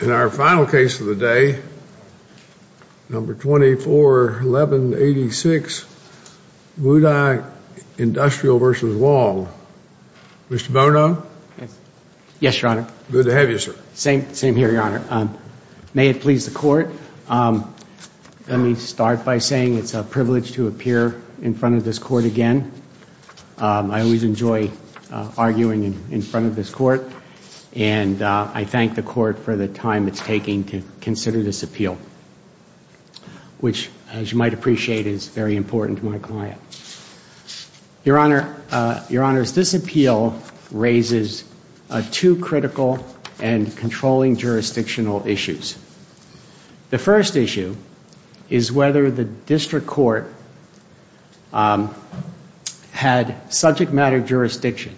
In our final case of the day, No. 241186, Wudi Industrial v. Wong. Mr. Bono? Yes, Your Honor. Good to have you, sir. Same here, Your Honor. May it please the Court, let me start by saying it's a privilege to appear in front of this Court again. I always enjoy arguing in front of this Court, and I thank the Court for the time it's taking to consider this appeal, which, as you might appreciate, is very important to my client. Your Honor, this appeal raises two critical and controlling jurisdictional issues. The first issue is whether the District Court had subject matter jurisdiction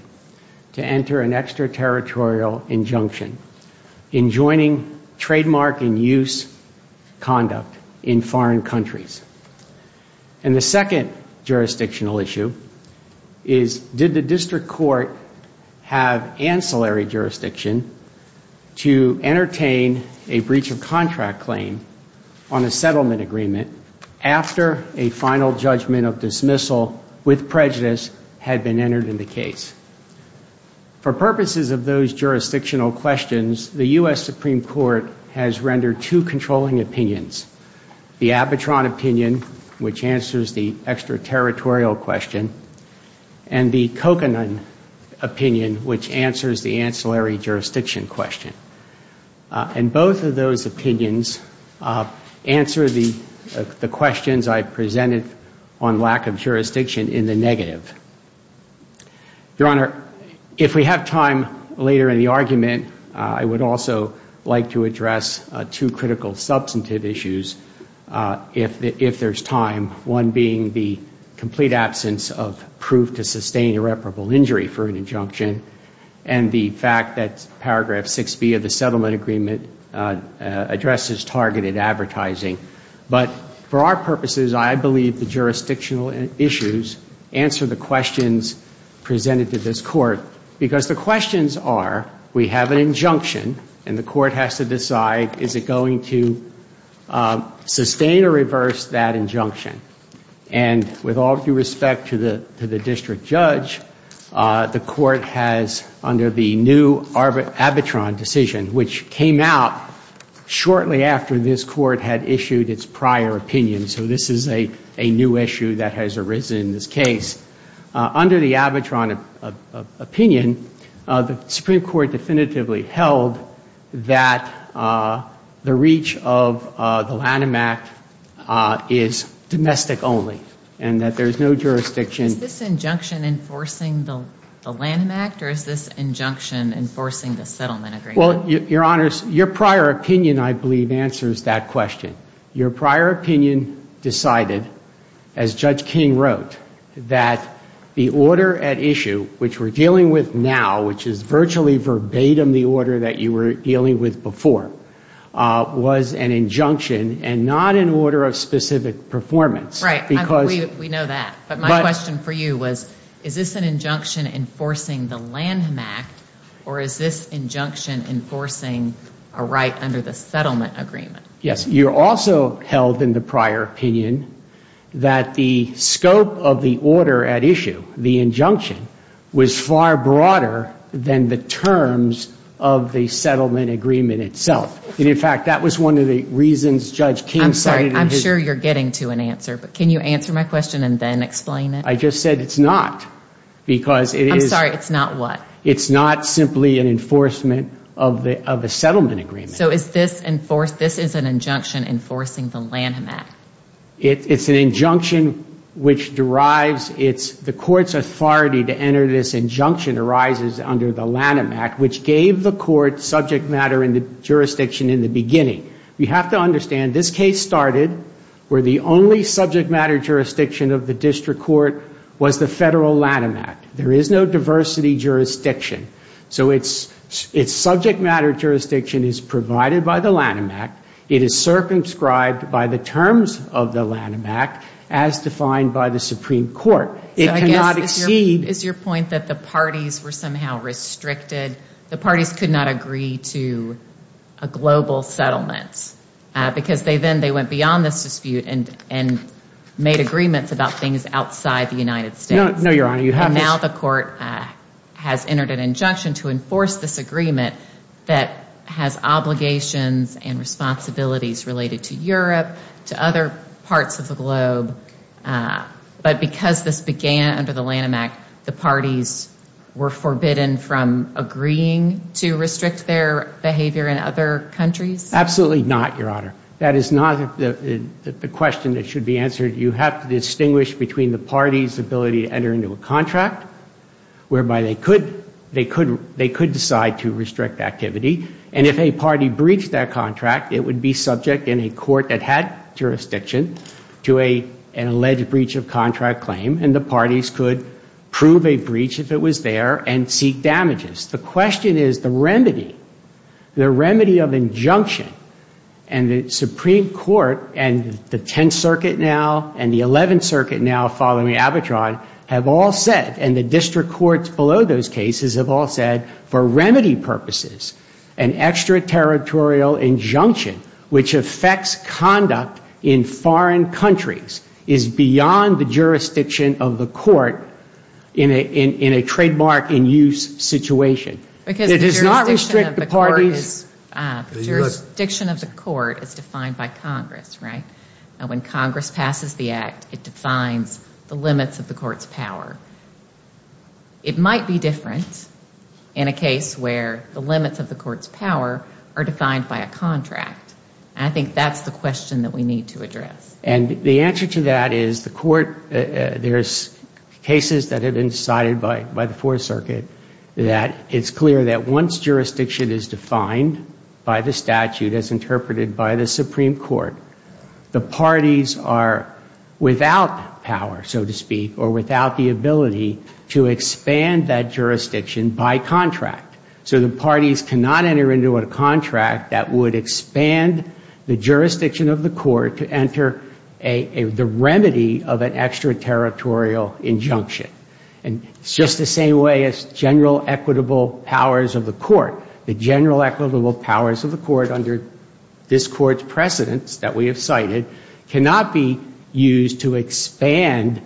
to enter an extraterritorial injunction in joining trademark and use conduct in foreign countries. And the second jurisdictional issue is did the District Court have ancillary jurisdiction to entertain a breach of contract claim on a settlement agreement after a final judgment of dismissal with prejudice had been entered in the case. For purposes of those jurisdictional questions, the U.S. Supreme Court has rendered two controlling opinions, the Abitron opinion, which answers the extraterritorial question, and the Kokanen opinion, which answers the ancillary jurisdiction question. And both of those opinions answer the questions I presented on lack of jurisdiction in the negative. Your Honor, if we have time later in the argument, I would also like to address two critical substantive issues, if there's time, one being the complete absence of proof to sustain irreparable injury for an injunction, and the fact that paragraph 6B of the settlement agreement addresses targeted advertising. But for our purposes, I believe the jurisdictional issues answer the questions presented to this Court, because the questions are we have an injunction, and the Court has to decide is it going to sustain or reverse that injunction. And with all due respect to the District Judge, the Court has, under the new Abitron decision, which came out shortly after this Court had issued its prior opinion, so this is a new issue that has arisen in this case, under the Abitron opinion, the Supreme Court definitively held that the reach of the Lanham Act is domestic only, and that there's no jurisdiction. Is this injunction enforcing the Lanham Act, or is this injunction enforcing the settlement agreement? Well, Your Honors, your prior opinion, I believe, answers that question. Your prior opinion decided, as Judge King wrote, that the order at issue, which we're dealing with now, which is virtually verbatim the order that you were dealing with before, was an injunction and not an order of specific performance. Right, we know that. But my question for you was, is this an injunction enforcing the Lanham Act, or is this injunction enforcing a right under the settlement agreement? Yes. You also held, in the prior opinion, that the scope of the order at issue, the injunction, was far broader than the terms of the settlement agreement itself. And, in fact, that was one of the reasons Judge King cited in his... I'm sorry, I'm sure you're getting to an answer, but can you answer my question and then explain it? I just said it's not, because it is... I'm sorry, it's not what? It's not simply an enforcement of a settlement agreement. So is this, this is an injunction enforcing the Lanham Act? It's an injunction which derives, it's the court's authority to enter this injunction arises under the Lanham Act, which gave the court subject matter and the jurisdiction in the beginning. You have to understand, this case started where the only subject matter jurisdiction of the district court was the federal Lanham Act. There is no diversity jurisdiction. So it's subject matter jurisdiction is provided by the Lanham Act. It is circumscribed by the terms of the Lanham Act, as defined by the Supreme Court. It cannot exceed... Is your point that the parties were somehow restricted? The parties could not agree to a global settlement because they then, they went beyond this dispute and made agreements about things outside the United States. No, Your Honor, you have to... Now the court has entered an injunction to enforce this agreement that has obligations and responsibilities related to Europe, to other parts of the globe. But because this under the Lanham Act, the parties were forbidden from agreeing to restrict their behavior in other countries? Absolutely not, Your Honor. That is not the question that should be answered. You have to distinguish between the party's ability to enter into a contract, whereby they could decide to restrict activity. And if a party breached that contract, it would be subject in a court that had jurisdiction to an alleged breach of contract claim. And the parties could prove a breach if it was there and seek damages. The question is the remedy, the remedy of injunction. And the Supreme Court and the 10th Circuit now, and the 11th Circuit now following Abitron have all said, and the district courts below those cases have all said, for remedy purposes, an extraterritorial injunction which affects conduct in foreign countries is beyond the jurisdiction of the court in a trademark in use situation. Because the jurisdiction of the court is defined by Congress, right? When Congress passes the contract, it defines the limits of the court's power. It might be different in a case where the limits of the court's power are defined by a contract. I think that's the question that we need to address. And the answer to that is the court, there's cases that have been decided by the Fourth Circuit that it's clear that once jurisdiction is defined by the statute as interpreted by the Supreme Court, the parties are without power, so to speak, or without the ability to expand that jurisdiction by contract. So the parties cannot enter into a contract that would expand the jurisdiction of the court to enter the remedy of an extraterritorial injunction. And it's just the same way as general equitable powers of the court. The general equitable powers of the court under this court's precedents that we have cited cannot be used to expand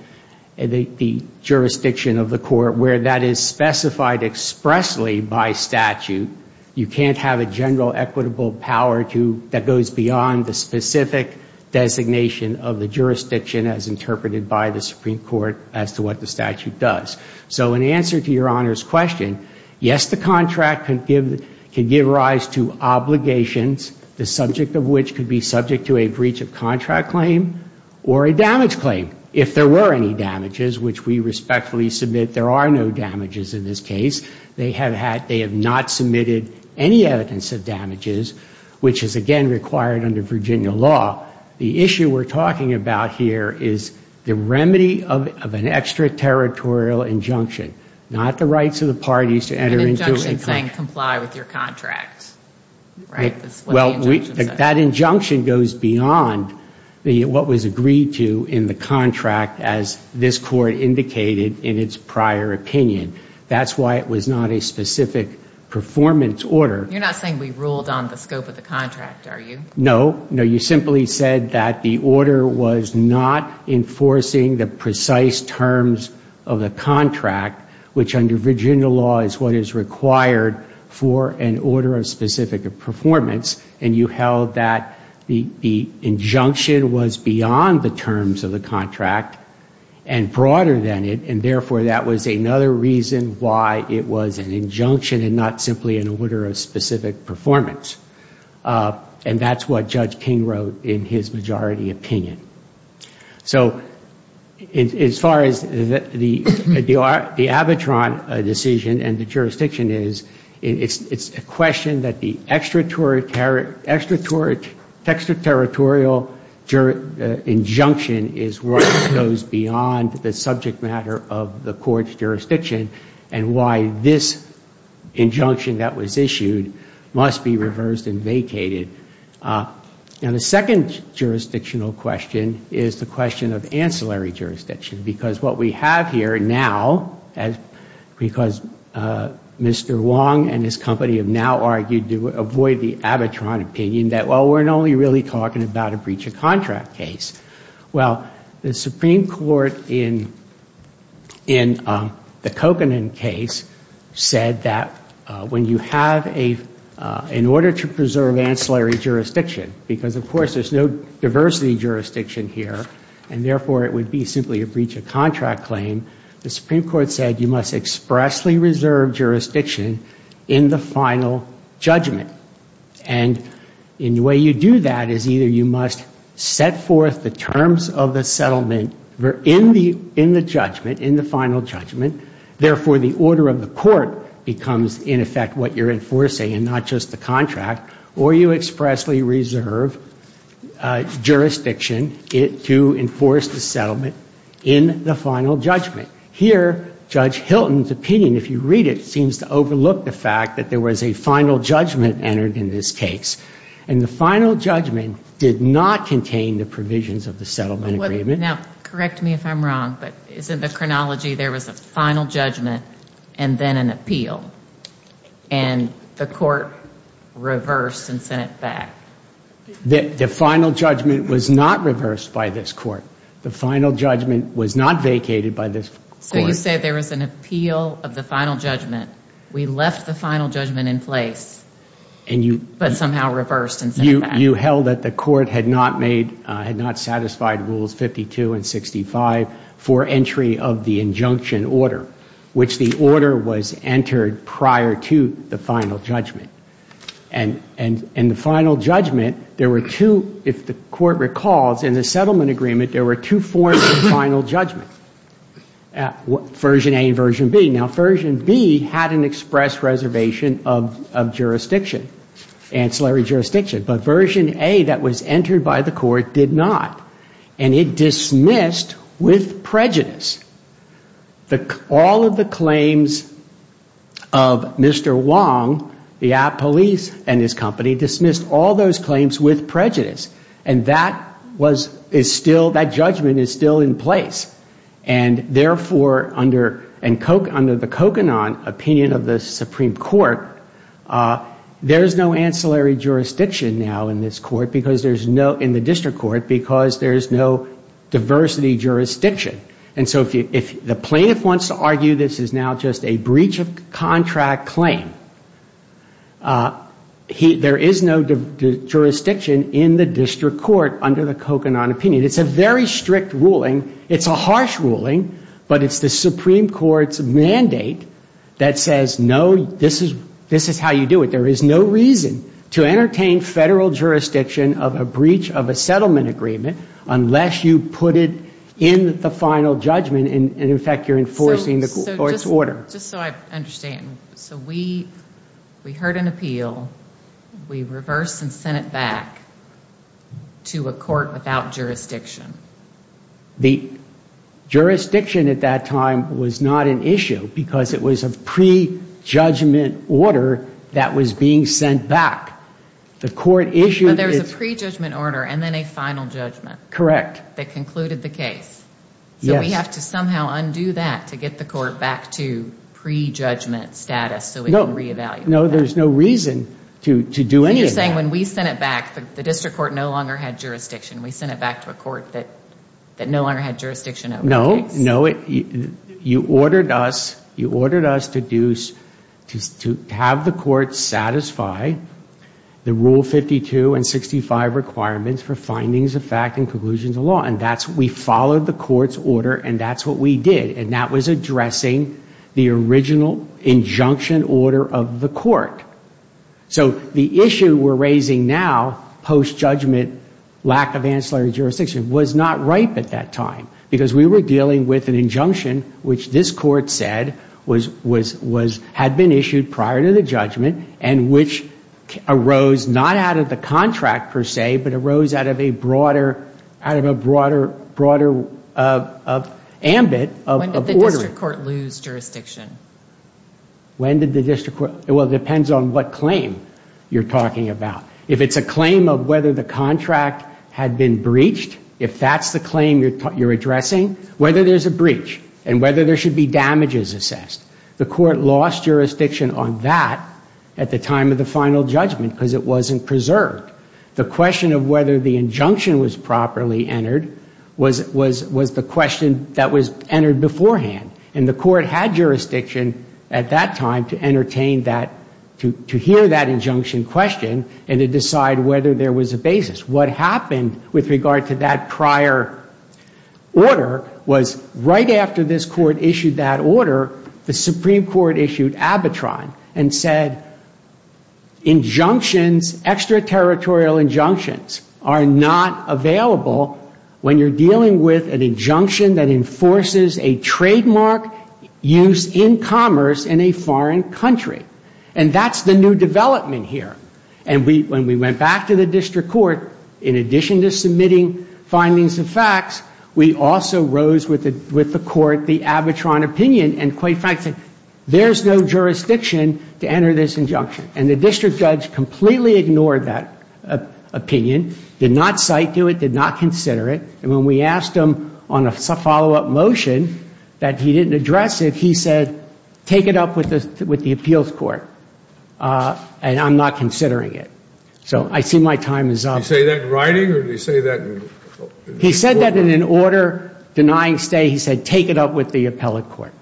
the jurisdiction of the court where that is specified expressly by statute. You can't have a general equitable power that goes beyond the specific designation of the jurisdiction as interpreted by the Supreme Court as to what the statute does. So in answer to Your Honor's question, yes, the contract can give rise to obligations, the subject of which could be subject to a breach of contract claim or a damage claim. If there were any damages, which we respectfully submit there are no damages in this case, they have not submitted any evidence of damages, which is, again, required under Virginia law. The issue we're talking about here is the remedy of an extraterritorial injunction, not the rights of the parties to enter into it. An injunction saying comply with your contract. That injunction goes beyond what was agreed to in the contract as this court indicated in its prior opinion. That's why it was not a specific performance order. You're not saying we ruled on the scope of the contract, are you? No. No, you simply said that the order was not enforcing the precise terms of the contract, which under Virginia law is what is required for an order of specific performance, and you held that the injunction was beyond the terms of the contract and broader than it, and therefore that was another reason why it was an injunction and not simply an order of specific performance. And that's what Judge King wrote in his majority opinion. So as far as the Abitron decision and the jurisdiction is, it's a question that the extraterritorial injunction is what goes beyond the subject matter of the court's jurisdiction and why this injunction that was issued must be reversed and vacated. And the second jurisdictional question is the question of ancillary jurisdiction, because what we have here now, because Mr. Wong and his company have now argued to avoid the Abitron opinion that, well, we're only really talking about a breach of contract case. Well, the Supreme Court in the Kokanen case said that when you have a, in order to preserve ancillary jurisdiction, because of course there's no diversity jurisdiction here and therefore it would be simply a breach of contract claim, the Supreme Court said you must expressly reserve jurisdiction in the final judgment. And the way you do that is either you must set forth the terms of the settlement in the judgment, in the final judgment, therefore the order of the court becomes in effect what you're enforcing and not just the contract, or you expressly reserve jurisdiction to enforce the settlement in the final judgment. Here, Judge Hilton's opinion, if you read it, seems to overlook the fact that there was a final judgment entered in this case, and the final judgment did not contain the provisions of the settlement agreement. Now, correct me if I'm wrong, but isn't the chronology there was a final judgment and then an appeal, and the court reversed and sent it back? The final judgment was not reversed by this court. The final judgment was not vacated by this court. So you say there was an appeal of the final judgment, we left the final judgment in place, but somehow reversed and sent it back? You held that the court had not made, had not satisfied rules 52 and 65 for entry of the injunction order, which the order was entered prior to the final judgment. And the final judgment, there were two, if the court recalls, in the settlement agreement, there were two forms of final judgment, version A and version B. Now, version B had an express reservation of jurisdiction, ancillary jurisdiction, but version A that was entered by the court did not, and it dismissed with prejudice all of the claims of Mr. Wong, the police and his company, dismissed all those claims with prejudice. And that was, is still, that judgment is still in place. And therefore, under the Kokanon opinion of the Supreme Court, there's no ancillary jurisdiction now in this court, because there's no, in the district court, because there's no diversity jurisdiction. And so if the plaintiff wants to argue this is now just a breach of contract claim, he, there is no jurisdiction in the district court under the Kokanon opinion. It's a very strict ruling. It's a harsh ruling, but it's the Supreme Court's mandate that says, no, this is, this is how you do it. There is no reason to entertain federal jurisdiction of a breach of a settlement agreement unless you put it in the final judgment, and in fact, you're So we, we heard an appeal. We reversed and sent it back to a court without jurisdiction. The jurisdiction at that time was not an issue because it was a pre-judgment order that was being sent back. The court issued... But there was a pre-judgment order and then a final judgment. Correct. That concluded the case. So we have to somehow undo that to get the court back to pre-judgment status so we can re-evaluate that. No, there's no reason to do any of that. So you're saying when we sent it back, the district court no longer had jurisdiction. We sent it back to a court that no longer had jurisdiction over the case. No, no. You ordered us, you ordered us to do, to have the court satisfy the Rule 52 and 65 requirements for findings of fact and conclusions of law. And that's, we followed the court's order and that's what we did. And that was addressing the original injunction order of the court. So the issue we're raising now, post-judgment lack of ancillary jurisdiction, was not ripe at that time because we were dealing with an injunction which this court said was, was, was, had been issued prior to the judgment and which arose not out of the contract per se, but arose out of a ambit of ordering. When did the district court lose jurisdiction? When did the district court, well, it depends on what claim you're talking about. If it's a claim of whether the contract had been breached, if that's the claim you're addressing, whether there's a breach and whether there should be damages assessed. The court lost jurisdiction on that at the time of the final judgment because it wasn't preserved. The question of whether the injunction was properly entered was, was, was the question that was entered beforehand. And the court had jurisdiction at that time to entertain that, to, to hear that injunction question and to decide whether there was a basis. What happened with regard to that prior order was right after this court issued that order, the Supreme Court issued abitron and said, injunctions, extraterritorial injunctions are not available when you're dealing with an injunction that enforces a trademark use in commerce in a foreign country. And that's the new development here. And we, when we went back to the district court, in addition to submitting findings and facts, we also rose with the, with the court the abitron opinion and quite frankly, there's no jurisdiction to enter this injunction. And the district judge completely ignored that opinion, did not cite to it, did not consider it. And when we asked him on a follow-up motion that he didn't address it, he said, take it up with the, with the appeals court. And I'm not considering it. So I see my time is up. Did he say that in writing or did he say that in court? He said that in an order denying stay. He said, take it up with the appellate court.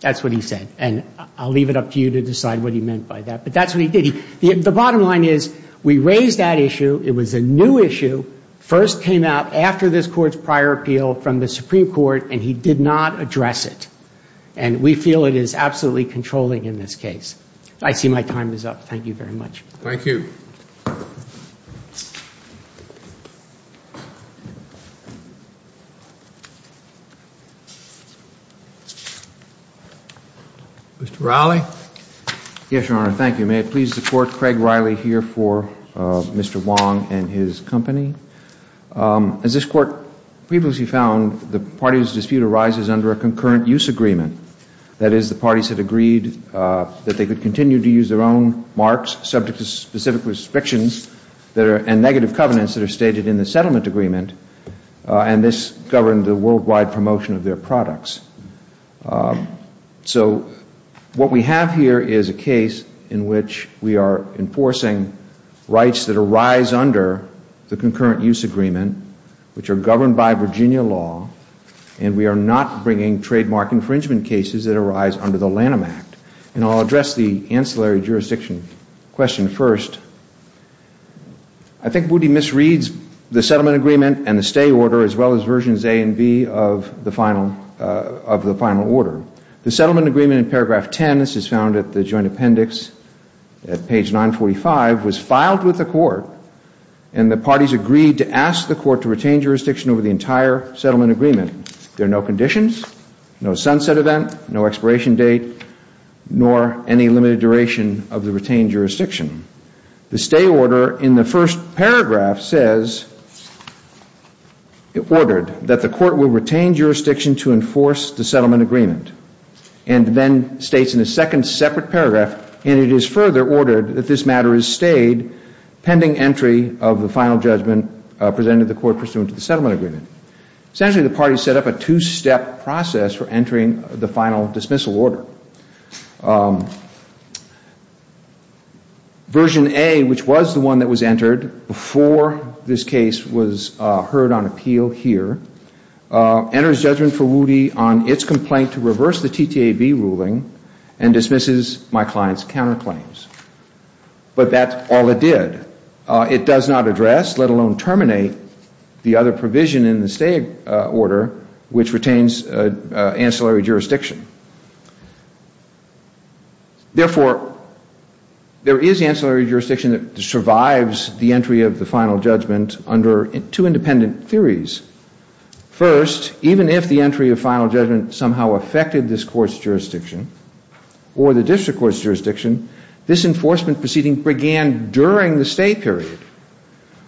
That's what he said. And I'll leave it up to you to decide what he meant by that. But that's what he did. The bottom line is we raised that issue. It was a new issue, first came out after this court's prior appeal from the Supreme Court and he did not address it. And we feel it is absolutely controlling in this case. I see my time is up. Thank you very much. Thank you. Mr. Riley. Yes, Your Honor. Thank you. May it please the court, Craig Riley here for Mr. Wong and his company. As this court previously found the parties dispute arises under a concurrent use agreement. That is the parties had agreed that they could continue to use their own trademarks subject to specific restrictions and negative covenants that are stated in the settlement agreement and this governed the worldwide promotion of their products. So what we have here is a case in which we are enforcing rights that arise under the concurrent use agreement which are governed by Virginia law and we are not bringing trademark infringement cases that arise under the Lanham Act. And I'll address the ancillary jurisdiction question first. I think Booty misreads the settlement agreement and the stay order as well as versions A and B of the final order. The settlement agreement in paragraph 10, this is found at the joint appendix at page 945, was filed with the court and the parties agreed to ask the court to retain jurisdiction over the entire settlement agreement. There are no sunset event, no expiration date, nor any limited duration of the retained jurisdiction. The stay order in the first paragraph says, ordered that the court will retain jurisdiction to enforce the settlement agreement. And then states in the second separate paragraph, and it is further ordered that this matter is stayed pending entry of the final judgment presented to the court pursuant to the settlement agreement. Essentially, the parties set up a two-step process for entering the final dismissal order. Version A, which was the one that was entered before this case was heard on appeal here, enters judgment for Woody on its complaint to reverse the TTAB ruling and dismisses my client's counterclaims. But that's all it did. It does not address, let alone terminate, the other provision in the stay order, which retains ancillary jurisdiction. Therefore, there is ancillary jurisdiction that survives the entry of the final judgment under two independent theories. First, even if the entry of final judgment somehow affected this court's jurisdiction or the district court's jurisdiction, this enforcement proceeding began during the stay period,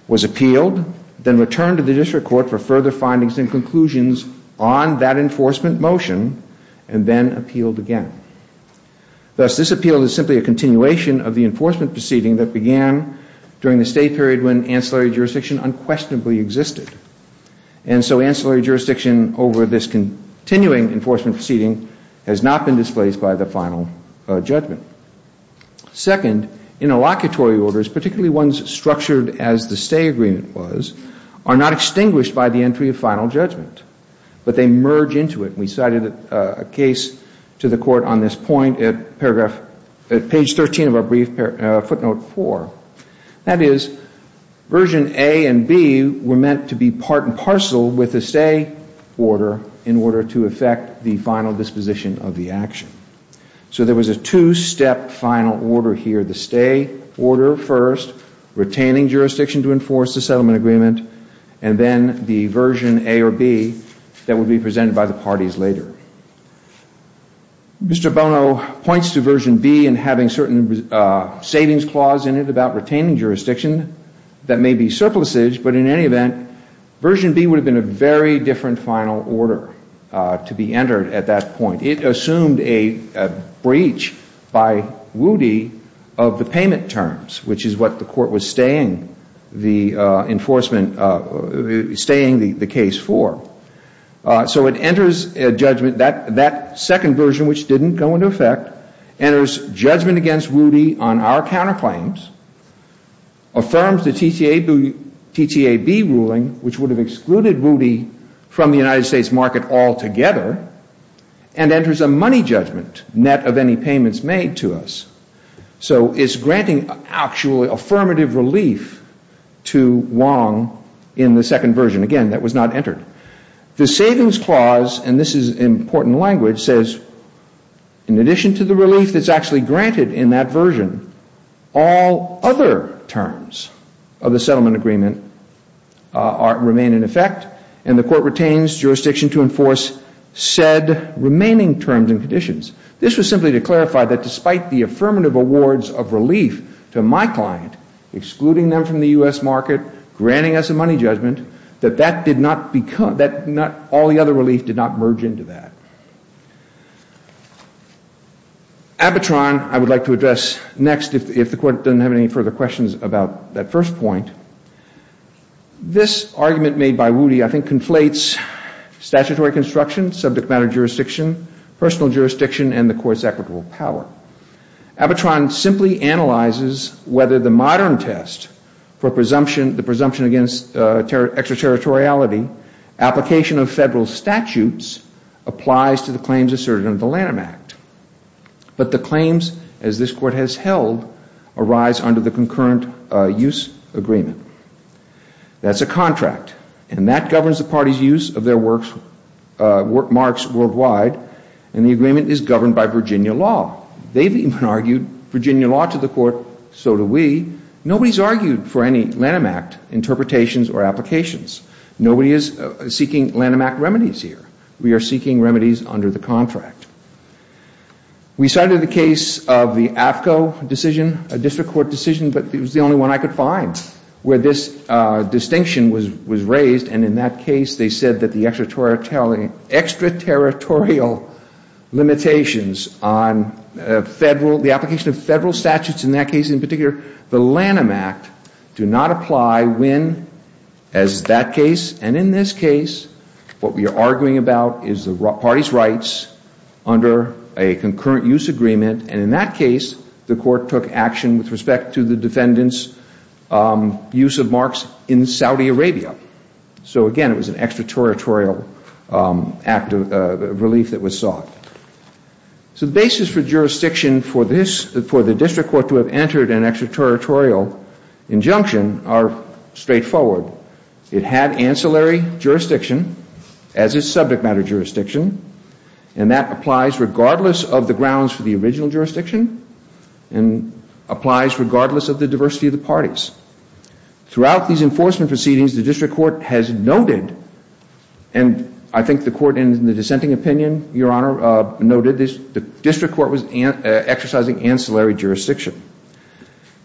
was appealed, then returned to the district court for further findings and conclusions on that enforcement motion, and then appealed again. Thus, this appeal is simply a continuation of the enforcement proceeding that began during the stay period when ancillary jurisdiction unquestionably existed. And so ancillary jurisdiction over this continuing enforcement proceeding has not been displaced by the final judgment. Second, in a locatory order, particularly ones structured as the stay agreement was, are not extinguished by the entry of final judgment. But they merge into it. We cited a case to the court on this point at paragraph page 13 of our brief footnote 4. That is, version A and B were meant to be part and parcel with the stay order in order to affect the final disposition of the action. So there was a two-step final order here, the stay order first, retaining jurisdiction to enforce the settlement agreement, and then the version A or B that would be presented by the parties later. Mr. Bono points to version B and having certain savings clause in it about retaining jurisdiction that may be surplusage, but in any event, version B would have been a very different final order to be entered at that point. It assumed a breach by Rudy of the payment terms, which is what the court was staying the enforcement, staying the case for. So it enters a judgment, that second version, which didn't go into effect, enters judgment against Rudy on our counterclaims, affirms the TTAB ruling, which would have excluded Rudy from the United States market altogether, and enters a money judgment, net of any payments made to us. So it's granting actually affirmative relief to Wong in the second version. Again, that was not entered. The savings clause, and this is important language, says in addition to the relief that's actually granted in that version, all other terms of the settlement agreement remain in effect, and the court retains jurisdiction to enforce said remaining terms and conditions. This was simply to clarify that despite the affirmative awards of relief to my client, excluding them from the U.S. market, granting us a money judgment, that all the other relief did not merge into that. Abitron, I would like to address next, if the court doesn't have any further questions about that first point. This argument made by Rudy, I think, conflates statutory construction, subject matter jurisdiction, personal jurisdiction, and the court's equitable power. Abitron simply analyzes whether the modern test for the presumption against extraterritoriality, application of federal statutes, applies to the claims asserted under the Lanham Act. But the claims, as this court has held, arise under the concurrent use agreement. That's a contract, and that governs the party's use of their work marks worldwide, and the agreement is governed by Virginia law. They've even argued Virginia law to the court, so do we. Nobody's argued for any Lanham Act interpretations or applications. Nobody is seeking Lanham Act remedies here. We are seeking remedies under the contract. We cited the case of the AFCO decision, a district court decision, but it was the only one I could find where this distinction was raised, and in that case they said that the extraterritorial limitations on the application of federal statutes in that case, in particular the Lanham Act, do not apply when, as that case, and in this case, what we are arguing about is the party's rights under a concurrent use agreement, and in that case the court took action with respect to the defendant's use of marks in Saudi Arabia. So again, it was an extraterritorial act of relief that was sought. So the basis for jurisdiction for the district court to have entered an extraterritorial injunction are straightforward. It had ancillary jurisdiction as its subject matter jurisdiction, and that applies regardless of the grounds for the original jurisdiction, and applies regardless of the diversity of the parties. Throughout these enforcement proceedings, the district court has noted, and I think the court in the dissenting opinion, Your Honor, noted, the district court was exercising ancillary jurisdiction.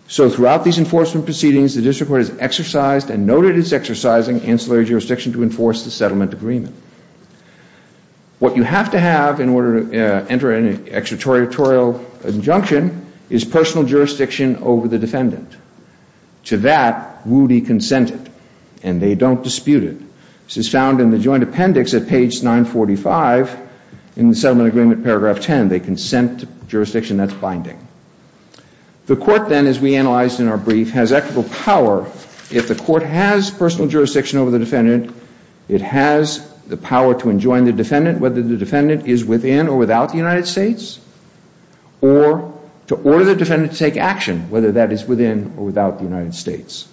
So throughout these enforcement proceedings, the district court has exercised and noted its exercising ancillary jurisdiction to enforce the settlement agreement. What you have to have in order to enter an extraterritorial injunction is personal jurisdiction over the defendant. To that, Woody consented, and they don't dispute it. This is found in the joint appendix at page 945 in the settlement agreement, paragraph 10. They consent to jurisdiction that's binding. The court then, as we analyzed in our brief, has equitable power. If the court has personal jurisdiction over the defendant, it has the power to enjoin the defendant, whether the defendant is within or without the United States, or to order the defendant to take action, whether that is within or without the United States.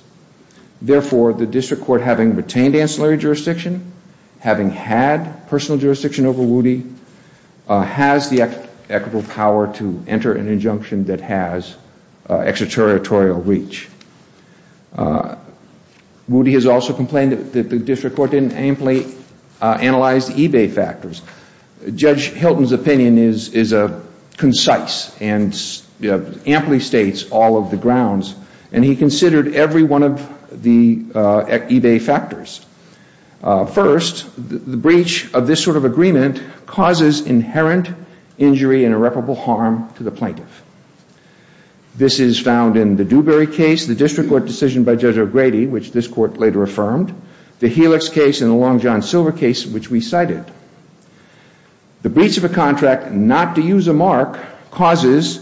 Therefore, the district court having retained ancillary jurisdiction, having had personal jurisdiction over Woody, has the equitable power to enter an injunction that has extraterritorial reach. Woody has also complained that the district court didn't amply analyze the eBay factors. Judge Hilton's opinion is concise and amply states all of the First, the breach of this sort of agreement causes inherent injury and irreparable harm to the plaintiff. This is found in the Dewberry case, the district court decision by Judge O'Grady, which this court later affirmed, the Helix case, and the Long John Silver case, which we cited. The breach of a contract not to use a mark causes,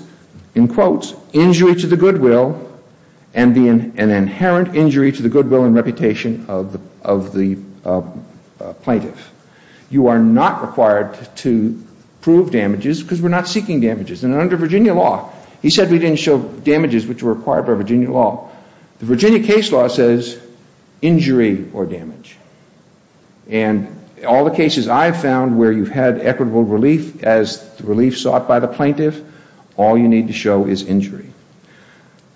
in quotes, injury to the goodwill and an inherent injury to the goodwill and reputation of the plaintiff. You are not required to prove damages because we're not seeking damages. And under Virginia law, he said we didn't show damages which were required by Virginia law. The Virginia case law says injury or damage. And all the cases I've found where you've had equitable relief as the relief sought by the plaintiff, all you need to show is injury.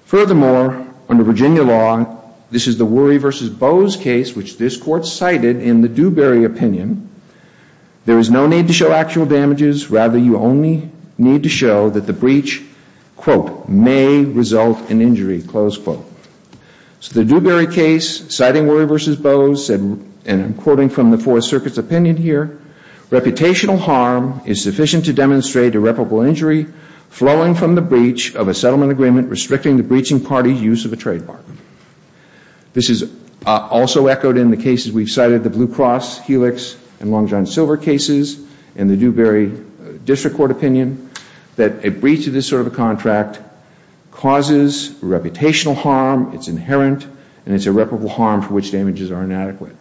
Furthermore, under Virginia law, this is the Worry v. Bowes case, which this court cited in the Dewberry opinion. There is no need to show actual damages. Rather, you only need to show that the breach, quote, may result in injury, close quote. So the Dewberry case, citing Worry v. Bowes, and I'm quoting from the Fourth Circuit's opinion here, reputational harm is sufficient to demonstrate irreparable injury flowing from the breach of a settlement agreement restricting the breaching party's use of a trade bargain. This is also echoed in the cases we've cited, the Blue Cross, Helix, and Long John Silver cases, and the Dewberry District Court opinion, that a breach of this sort of a contract causes reputational harm, it's inherent, and it's irreparable harm for which damages are inadequate.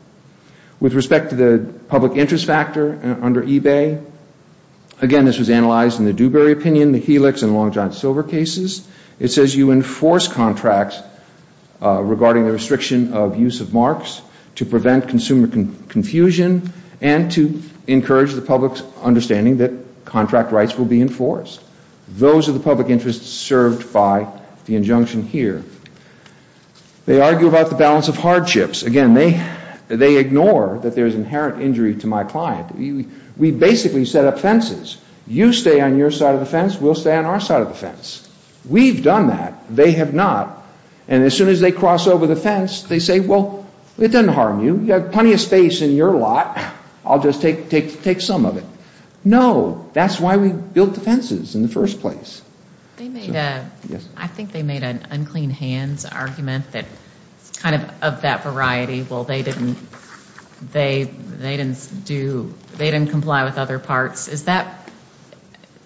With respect to the public interest factor under eBay, again, this was analyzed in the Dewberry opinion, the Helix, and Long John Silver cases. It says you enforce contracts regarding the restriction of use of marks to prevent consumer confusion and to encourage the public's understanding that contract rights will be enforced. Those are the public interests served by the injunction here. They argue about the hardships. Again, they ignore that there's inherent injury to my client. We basically set up fences. You stay on your side of the fence. We'll stay on our side of the fence. We've done that. They have not. And as soon as they cross over the fence, they say, well, it doesn't harm you. You have plenty of space in your lot. I'll just take some of it. No. That's why we built the fences in the first place. I think they made an unclean hands argument that kind of of that variety, well, they didn't comply with other parts. Is that,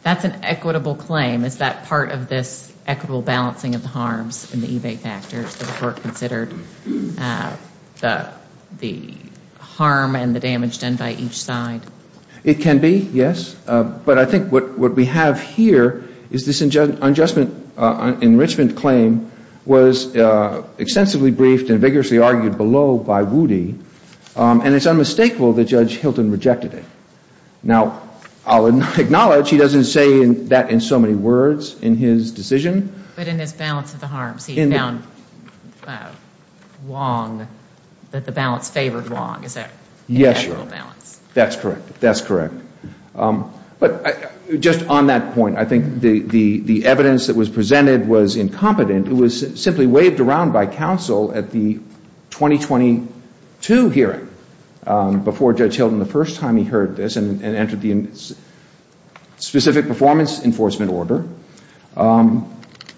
that's an equitable claim. Is that part of this equitable balancing of the harms in the eBay factors that were considered, the harm and the damage done by each side? It can be, yes. But I think what we have here is this unjust enrichment claim was extensively briefed and vigorously argued below by Woody. And it's unmistakable that Judge Hilton rejected it. Now, I'll acknowledge he doesn't say that in so many words in his decision. But in his balance of the harms, he found that the balance favored Wong. Is that? Yes. That's correct. That's correct. But just on that point, I think the evidence that was presented was incompetent. It was simply waved around by counsel at the 2022 hearing before Judge Hilton the first time he heard this and entered the specific performance enforcement order.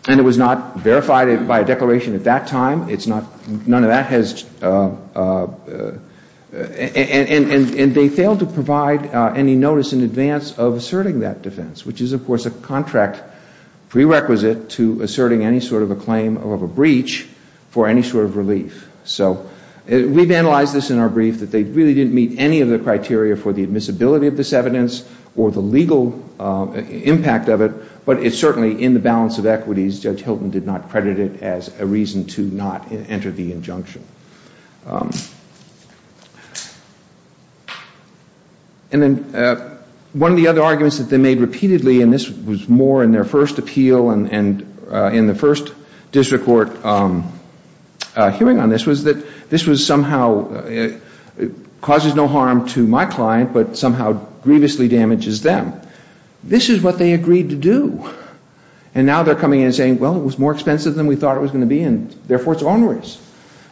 And it was not verified by a declaration at that time. It's not, none of that has, and they failed to provide any notice in advance of asserting that defense, which is, of course, a contract prerequisite to asserting any sort of a claim of a breach for any sort of relief. So we've analyzed this in our brief that they really didn't meet any of the criteria for the evidence or the legal impact of it. But it's certainly in the balance of equities, Judge Hilton did not credit it as a reason to not enter the injunction. And then one of the other arguments that they made repeatedly, and this was more in their first appeal and in the first district court hearing on this, was that this was somehow, causes no harm to my client but somehow grievously damages them. This is what they agreed to do. And now they're coming in and saying, well, it was more expensive than we thought it was going to be and therefore it's onwards.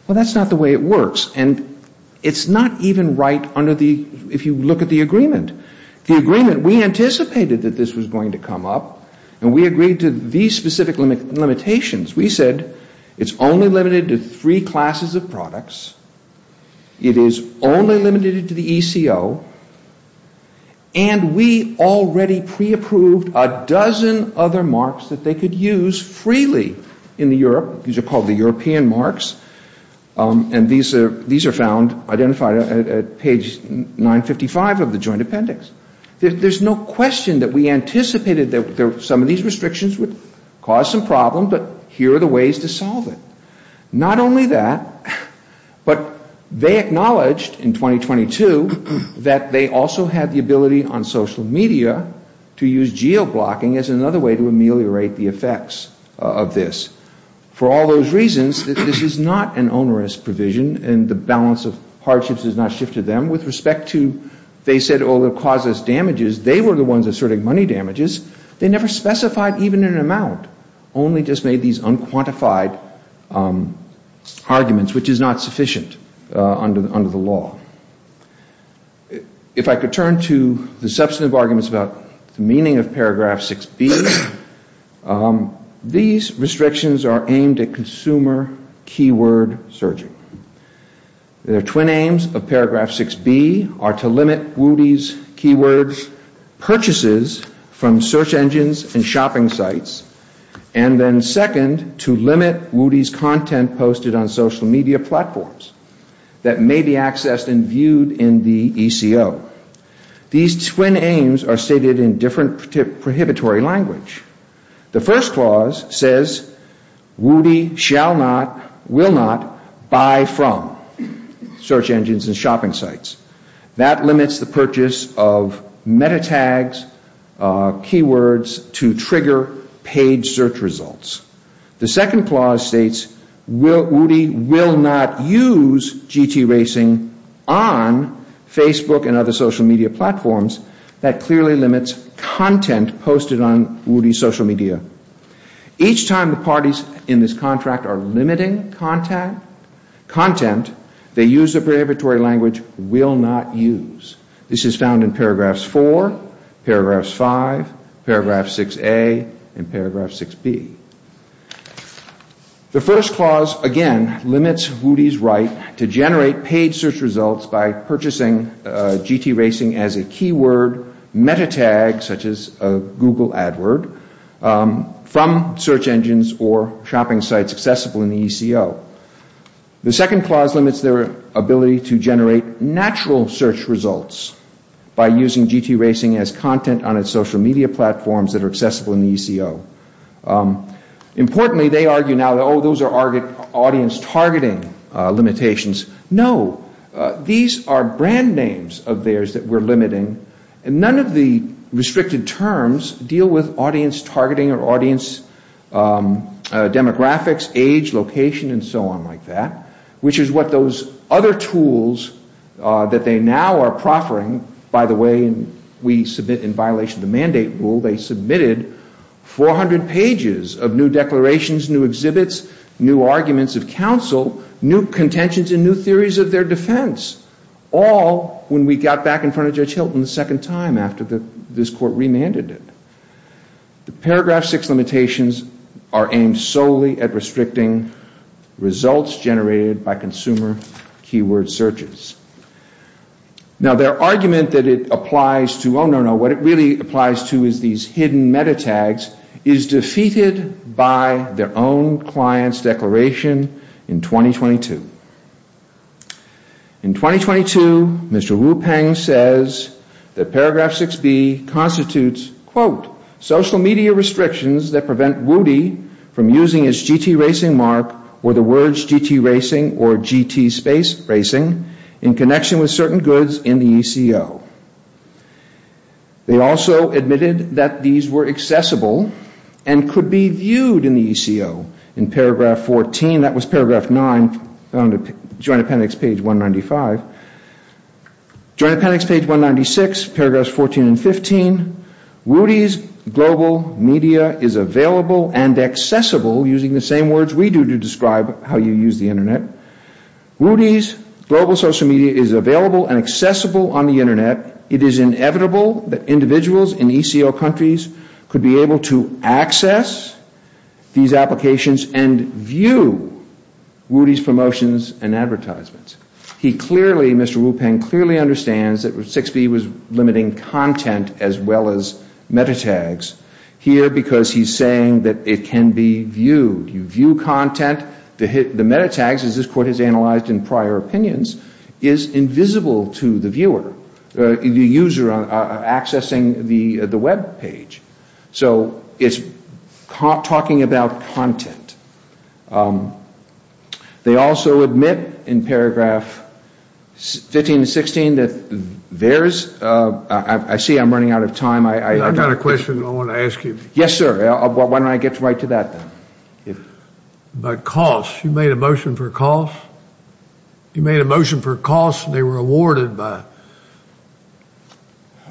Well, that's not the way it works. And it's not even right under the, if you look at the agreement. The agreement, we anticipated that this was going to come up and we agreed to these specific limitations. We said it's only limited to three classes of products. It is only limited to the ECO. And we already pre-approved a dozen other marks that they could use freely in the Europe. These are called the European marks. And these are found, identified at page 955 of the joint appendix. There's no question that we anticipated that some of these restrictions would cause some problem, but here are the ways to solve it. Not only that, but they acknowledged in 2022 that they also had the ability on social media to use geo-blocking as another way to ameliorate the effects of this. For all those reasons, this is not an onerous provision and the balance of hardships has not shifted them. With respect to they said, oh, it causes damages, they were the ones asserting money damages. They never specified even an amount, only just made these unquantified arguments, which is not sufficient under the law. If I could turn to the substantive arguments about the meaning of paragraph 6B, these restrictions are aimed at consumer keyword surging. Their twin aims of paragraph 6B are to limit Woody's keyword purchases from search engines and shopping sites, and then second, to limit Woody's content posted on social media platforms that may be accessed and viewed in the ECO. These twin aims are stated in different prohibitory language. The first clause says, Woody shall not, will not buy from search engines and shopping sites. That limits the purchase of meta-tags, keywords to trigger paid search results. The second clause states, Woody will not use GT Racing on Facebook and other social media platforms. That clearly limits content posted on Woody's social media. Each time the parties in this This is found in paragraphs 4, paragraphs 5, paragraph 6A, and paragraph 6B. The first clause, again, limits Woody's right to generate paid search results by purchasing GT Racing as a keyword meta-tag, such as a Google AdWord, from search engines or shopping sites accessible in the ECO. The second clause limits their ability to generate natural search results by using GT Racing as content on its social media platforms that are accessible in the ECO. Importantly, they argue now, oh, those are audience targeting limitations. No, these are brand names of theirs that we're limiting, and none of the restricted terms deal with audience targeting or audience demographics, age, location, and so on like that, which is what other tools that they now are proffering. By the way, we submit in violation of the mandate rule, they submitted 400 pages of new declarations, new exhibits, new arguments of counsel, new contentions, and new theories of their defense, all when we got back in front of Judge Hilton a second time after this Court remanded it. The paragraph 6 limitations are solely aimed at restricting results generated by consumer keyword searches. Now, their argument that it applies to, oh, no, no, what it really applies to is these hidden meta-tags is defeated by their own client's declaration in 2022. In 2022, Mr. Wu Peng says that paragraph 6B constitutes, quote, social media restrictions that prevent Woody from using his GT racing mark or the words GT racing or GT space racing in connection with certain goods in the ECO. They also admitted that these were accessible and could be viewed in the ECO. In paragraph 14, that was paragraph 9, Joint Appendix page 195, Joint Appendix page 196, paragraphs 14 and 15, Woody's global media is available and accessible, using the same words we do to describe how you use the Internet, Woody's global social media is available and accessible on the Internet. It is inevitable that individuals in ECO countries could be able to access these applications and view Woody's promotions and advertisements. He clearly, Mr. Wu Peng clearly understands that 6B was content as well as meta-tags here because he's saying that it can be viewed. You view content, the meta-tags, as this court has analyzed in prior opinions, is invisible to the viewer, the user accessing the web page. So it's talking about content. They also admit in paragraph 15 and 16 that there's, I see I'm running out of time. I've got a question I want to ask you. Yes, sir. Why don't I get right to that then. But costs, you made a motion for costs? You made a motion for costs and they were awarded by?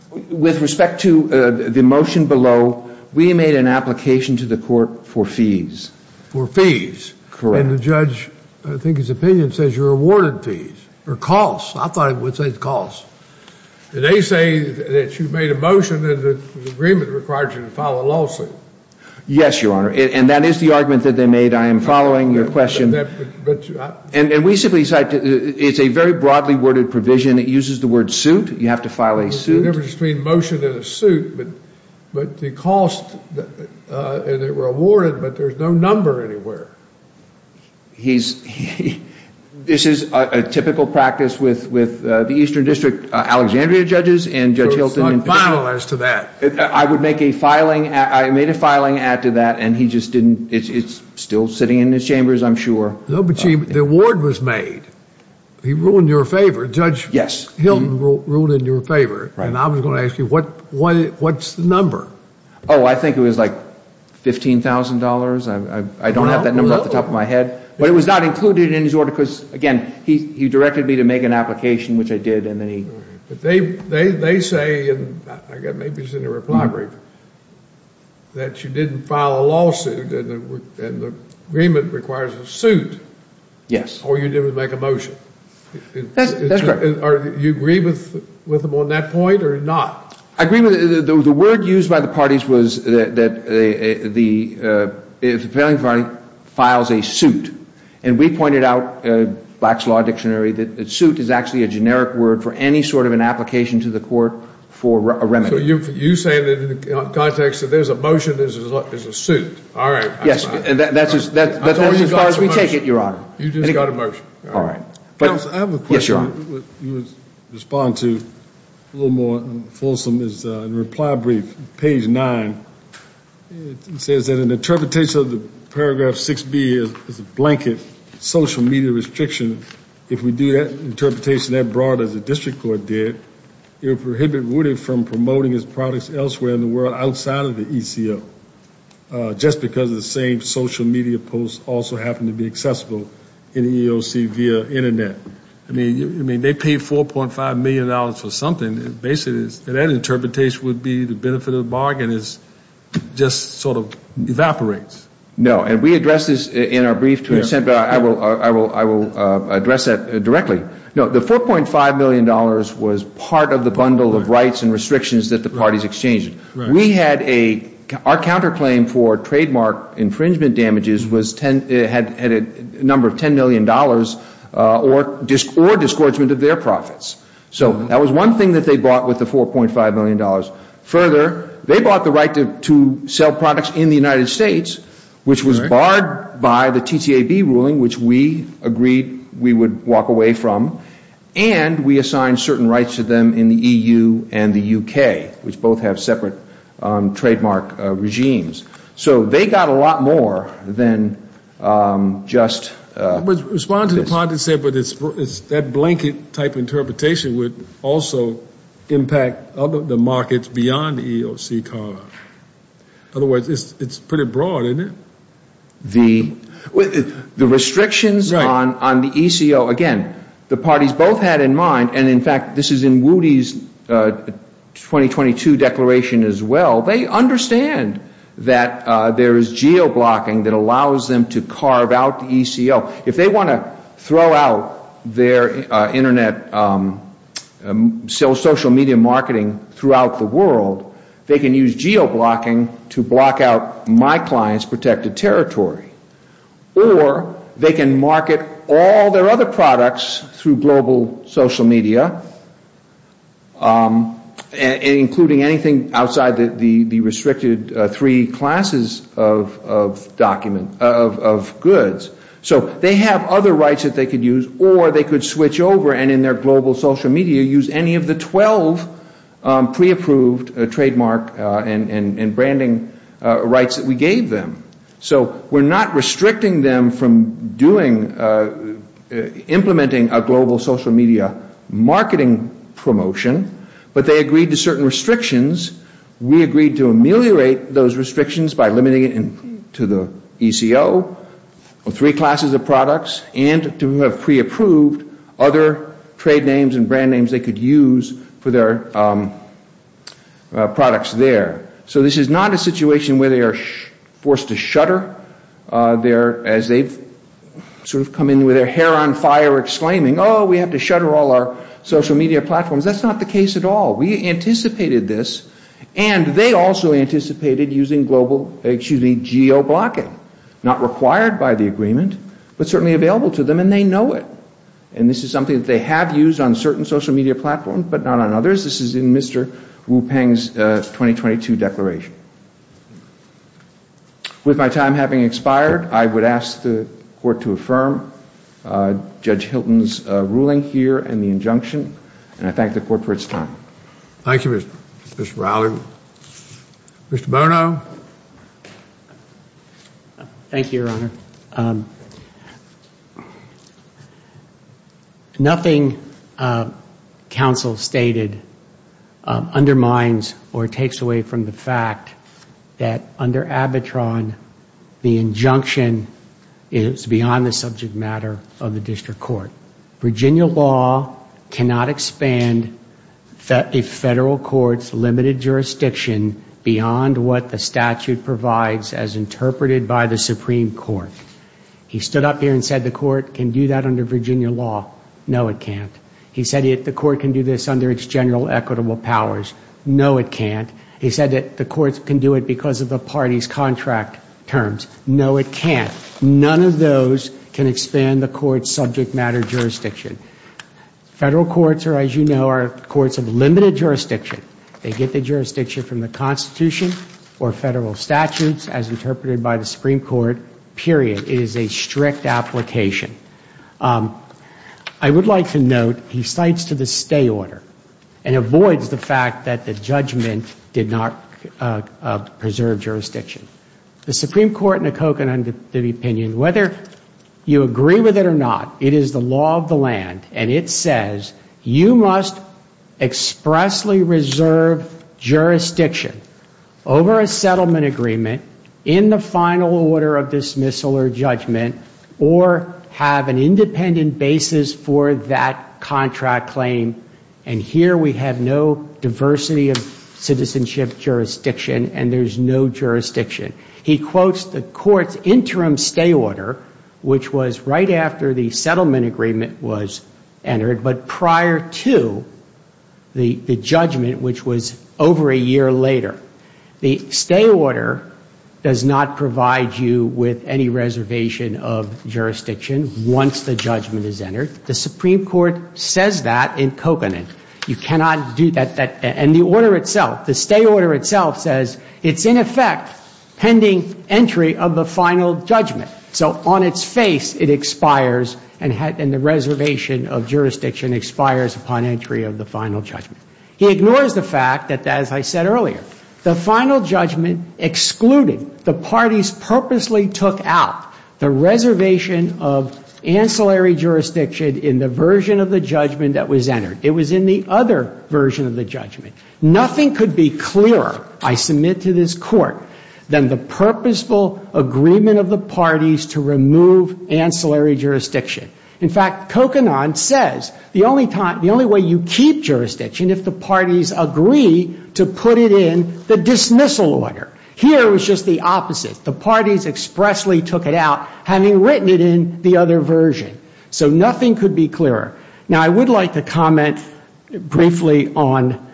With respect to the motion below, we made an application to the court for fees. For fees. Correct. And the judge, I think his opinion says you're awarded fees or costs. I thought it would say costs. And they say that you made a motion and the agreement required you to file a lawsuit. Yes, your honor. And that is the argument that they made. I am following your question. And we simply cite, it's a very broadly worded provision. It uses the word suit. You have to file a suit. The difference between motion and a suit, but the cost, and they were awarded, but there's no number anywhere. He's, this is a typical practice with the Eastern District Alexandria judges and Judge Hilton. So it's not final as to that. I would make a filing, I made a filing add to that and he just didn't, it's still sitting in his chambers, I'm sure. The award was made. He ruled in your favor. Judge Hilton ruled in your favor. And I was $15,000. I don't have that number off the top of my head. But it was not included in his order because, again, he directed me to make an application, which I did. They say, maybe it's in the reply brief, that you didn't file a lawsuit and the agreement requires a suit. Yes. All you did was make a motion. That's correct. Do you agree with them on that point or not? I agree with it. The word used by the parties was that the, if the failing party files a suit. And we pointed out, Black's Law Dictionary, that suit is actually a generic word for any sort of an application to the court for a remedy. So you're saying that in the context that there's a motion, there's a suit. All right. Yes. That's as far as we take it, Your Honor. You just got a motion. All right. I have a question to respond to a little more fulsome. In the reply brief, page nine, it says that an interpretation of the paragraph 6B is a blanket social media restriction. If we do that interpretation that broad as the district court did, it would prohibit Woody from promoting his products elsewhere in the world outside of the ECO, just because the same social media posts also happen to be accessible in the EEOC via Internet. I mean, they paid $4.5 million for something. Basically, that interpretation would be the benefit of the bargain is just sort of evaporates. No. And we addressed this in our brief, but I will address that directly. No, the $4.5 million was part of the bundle of rights and restrictions that the parties exchanged. We had a, our counterclaim for trademark infringement damages had a number of $10 million or disgorgement of their profits. So that was one thing that they bought with the $4.5 million. Further, they bought the right to sell products in the United States, which was barred by the TTAB ruling, which we agreed we would walk away from. And we assigned certain rights to them in the EU and the UK, which both have separate trademark regimes. So they got a lot more than just... Respond to the part that said, but it's that blanket type interpretation would also impact the markets beyond the EEOC, Carl. Otherwise, it's pretty broad, isn't it? The, the restrictions on the ECO, again, the parties both had in mind, and in fact, this is in Woody's 2022 declaration as well. They understand that there is geo-blocking that allows them to carve out the ECO. If they want to throw out their internet, social media marketing throughout the world, they can use geo-blocking to block out my client's protected territory. Or they can market all their other products through global social media, including anything outside the restricted three classes of document, of goods. So they have other rights that they could use, or they could switch over and in their global social media use any of the 12 pre-approved trademark and branding rights that we gave them. So we're not restricting them from doing, implementing a global social media marketing promotion, but they agreed to certain restrictions. We agreed to ameliorate those restrictions by limiting it to the ECO, or three classes of products, and to have pre-approved other trade names and brand names they could use for their products there. So this is not a situation where they are forced to shutter, as they've sort of come in with their hair on fire exclaiming, oh, we have to shutter all our social media platforms. That's not the case at all. We anticipated this, and they also anticipated using geo-blocking. Not required by the agreement, but certainly available to them, and they know it. And this is something that they have used on certain social media platforms, but not on others. This is in Mr. Wu Peng's 2022 declaration. With my time having expired, I would ask the Court to affirm Judge Hilton's ruling here and the injunction, and I thank the Court for its time. Thank you, Mr. Rowley. Mr. Bono? Thank you, Your Honor. Nothing counsel stated undermines or takes away from the fact that under ABITRON, the injunction is beyond the subject matter of the District Court. Virginia law cannot expand a federal court's limited jurisdiction beyond what the statute provides as interpreted by the Supreme Court. He stood up here and said the Court can do that under Virginia law. No, it can't. He said the Court can do this under its general equitable powers. No, it can't. He said the Court can do it because of the party's contract terms. No, it can't. None of those can expand the Court's subject matter jurisdiction. Federal courts, as you know, are courts of limited jurisdiction. They get the jurisdiction from the Constitution or federal statutes as interpreted by the Supreme Court, period. It is a strict application. I would like to note he cites to the stay order and avoids the fact that the judgment did not preserve jurisdiction. The Supreme Court in the Coquitlam opinion, whether you agree with it or not, it is the law of the of dismissal or judgment or have an independent basis for that contract claim. And here we have no diversity of citizenship jurisdiction and there's no jurisdiction. He quotes the Court's interim stay order, which was right after the settlement agreement was entered, but prior to the judgment, which was over a year later. The stay order does not provide you with any reservation of jurisdiction once the judgment is entered. The Supreme Court says that in coconut. You cannot do that. And the order itself, the stay order itself says it's in effect pending entry of the final judgment. So on its face, it expires and the reservation of jurisdiction expires upon entry of the final judgment. He ignores the fact that, as I said earlier, the final judgment excluded, the parties purposely took out the reservation of ancillary jurisdiction in the version of the judgment that was entered. It was in the other version of the judgment. Nothing could be clearer, I submit to this Court, than the purposeful agreement of the parties to remove ancillary jurisdiction. In fact, coconut says the only time, the only way you keep jurisdiction if the parties agree to put it in the dismissal order. Here it was just the opposite. The parties expressly took it out, having written it in the other version. So nothing could be clearer. Now, I would like to comment briefly on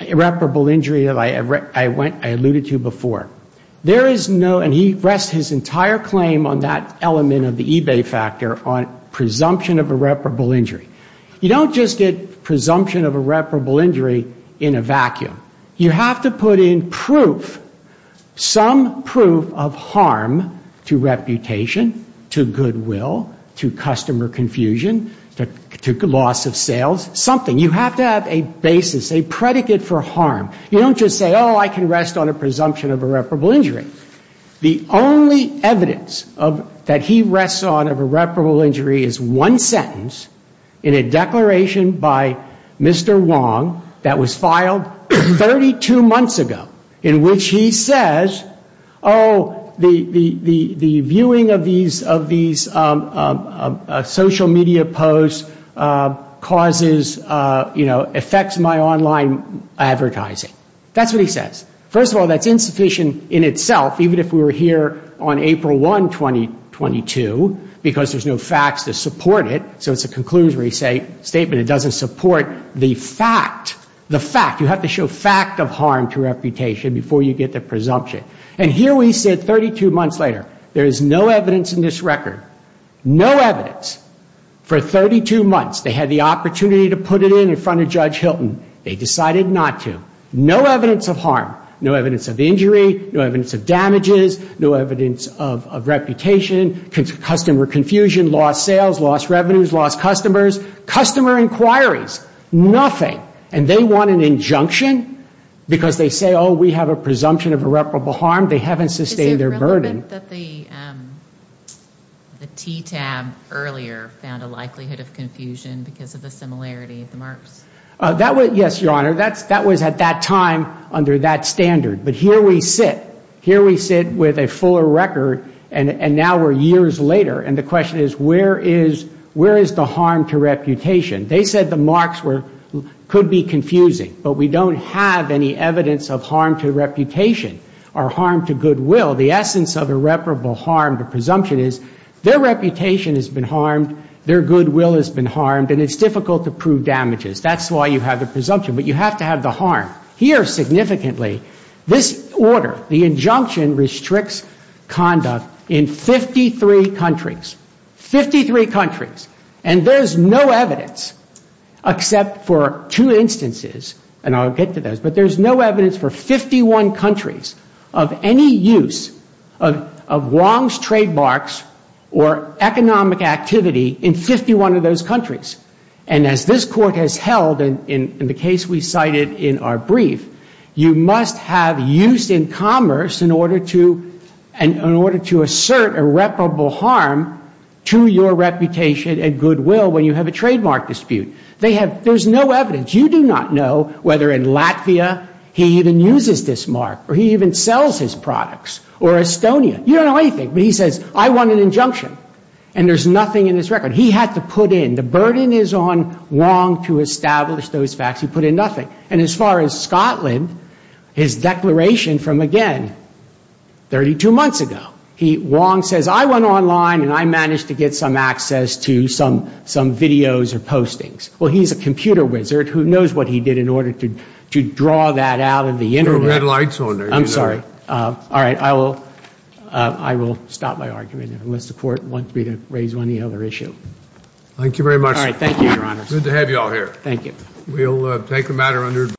irreparable injury that I alluded to before. There is no, and he rests his entire claim on that element of the eBay factor on presumption of irreparable injury. You don't just get presumption of irreparable injury in a vacuum. You have to put in proof, some proof of harm to reputation, to goodwill, to customer confusion, to loss of sales, something. You have to have a basis, a predicate for harm. You don't just say, oh, I can rest on a presumption of irreparable injury. The only evidence that he rests on of irreparable injury is one sentence in a declaration by Mr. Wong that was filed 32 months ago, in which he says, oh, the viewing of these social media posts causes, you know, affects my online advertising. That's what he says. First of all, that's insufficient in itself, even if we were here on April 1, 2022, because there's no facts to support it. So it's a conclusory statement. It doesn't support the fact, the fact. You have to show fact of harm to reputation before you get the presumption. And here we sit 32 months later. There is no evidence in this record, no evidence. For 32 months, they had the opportunity to put it in in front of Judge Hilton. They decided not to. No evidence of harm, no evidence of injury, no evidence of damages, no evidence of reputation, customer confusion, lost sales, lost revenues, lost customer inquiries, nothing. And they want an injunction because they say, oh, we have a presumption of irreparable harm. They haven't sustained their burden. The TTAB earlier found a likelihood of confusion because of the similarity of the marks. Yes, Your Honor. That was at that time under that standard. But here we sit. Here we sit with a record, and now we're years later. And the question is, where is the harm to reputation? They said the marks could be confusing. But we don't have any evidence of harm to reputation or harm to goodwill. The essence of irreparable harm to presumption is their reputation has been harmed, their goodwill has been harmed, and it's difficult to prove damages. That's why you have the harm. Here, significantly, this order, the injunction restricts conduct in 53 countries. Fifty-three countries. And there's no evidence except for two instances, and I'll get to those, but there's no evidence for 51 countries of any use of wrongs, trademarks, or economic activity in 51 of those countries. And as this Court has held in the case we cited in our brief, you must have use in commerce in order to assert irreparable harm to your reputation and goodwill when you have a trademark dispute. There's no evidence. You do not know whether in Latvia he even uses this mark or he even sells his products, or Estonia. You don't know whether he uses this mark or he even sells his products, or Estonia. So Scotland is on Wong to establish those facts. He put in nothing. And as far as Scotland, his declaration from, again, 32 months ago, he, Wong says, I went online and I managed to get some access to some videos or postings. Well, he's a computer wizard who knows what he did in order to draw that out of the Internet. I'm sorry. All right. I will stop my argument unless the Court wants me to raise any other issue. Thank you very much.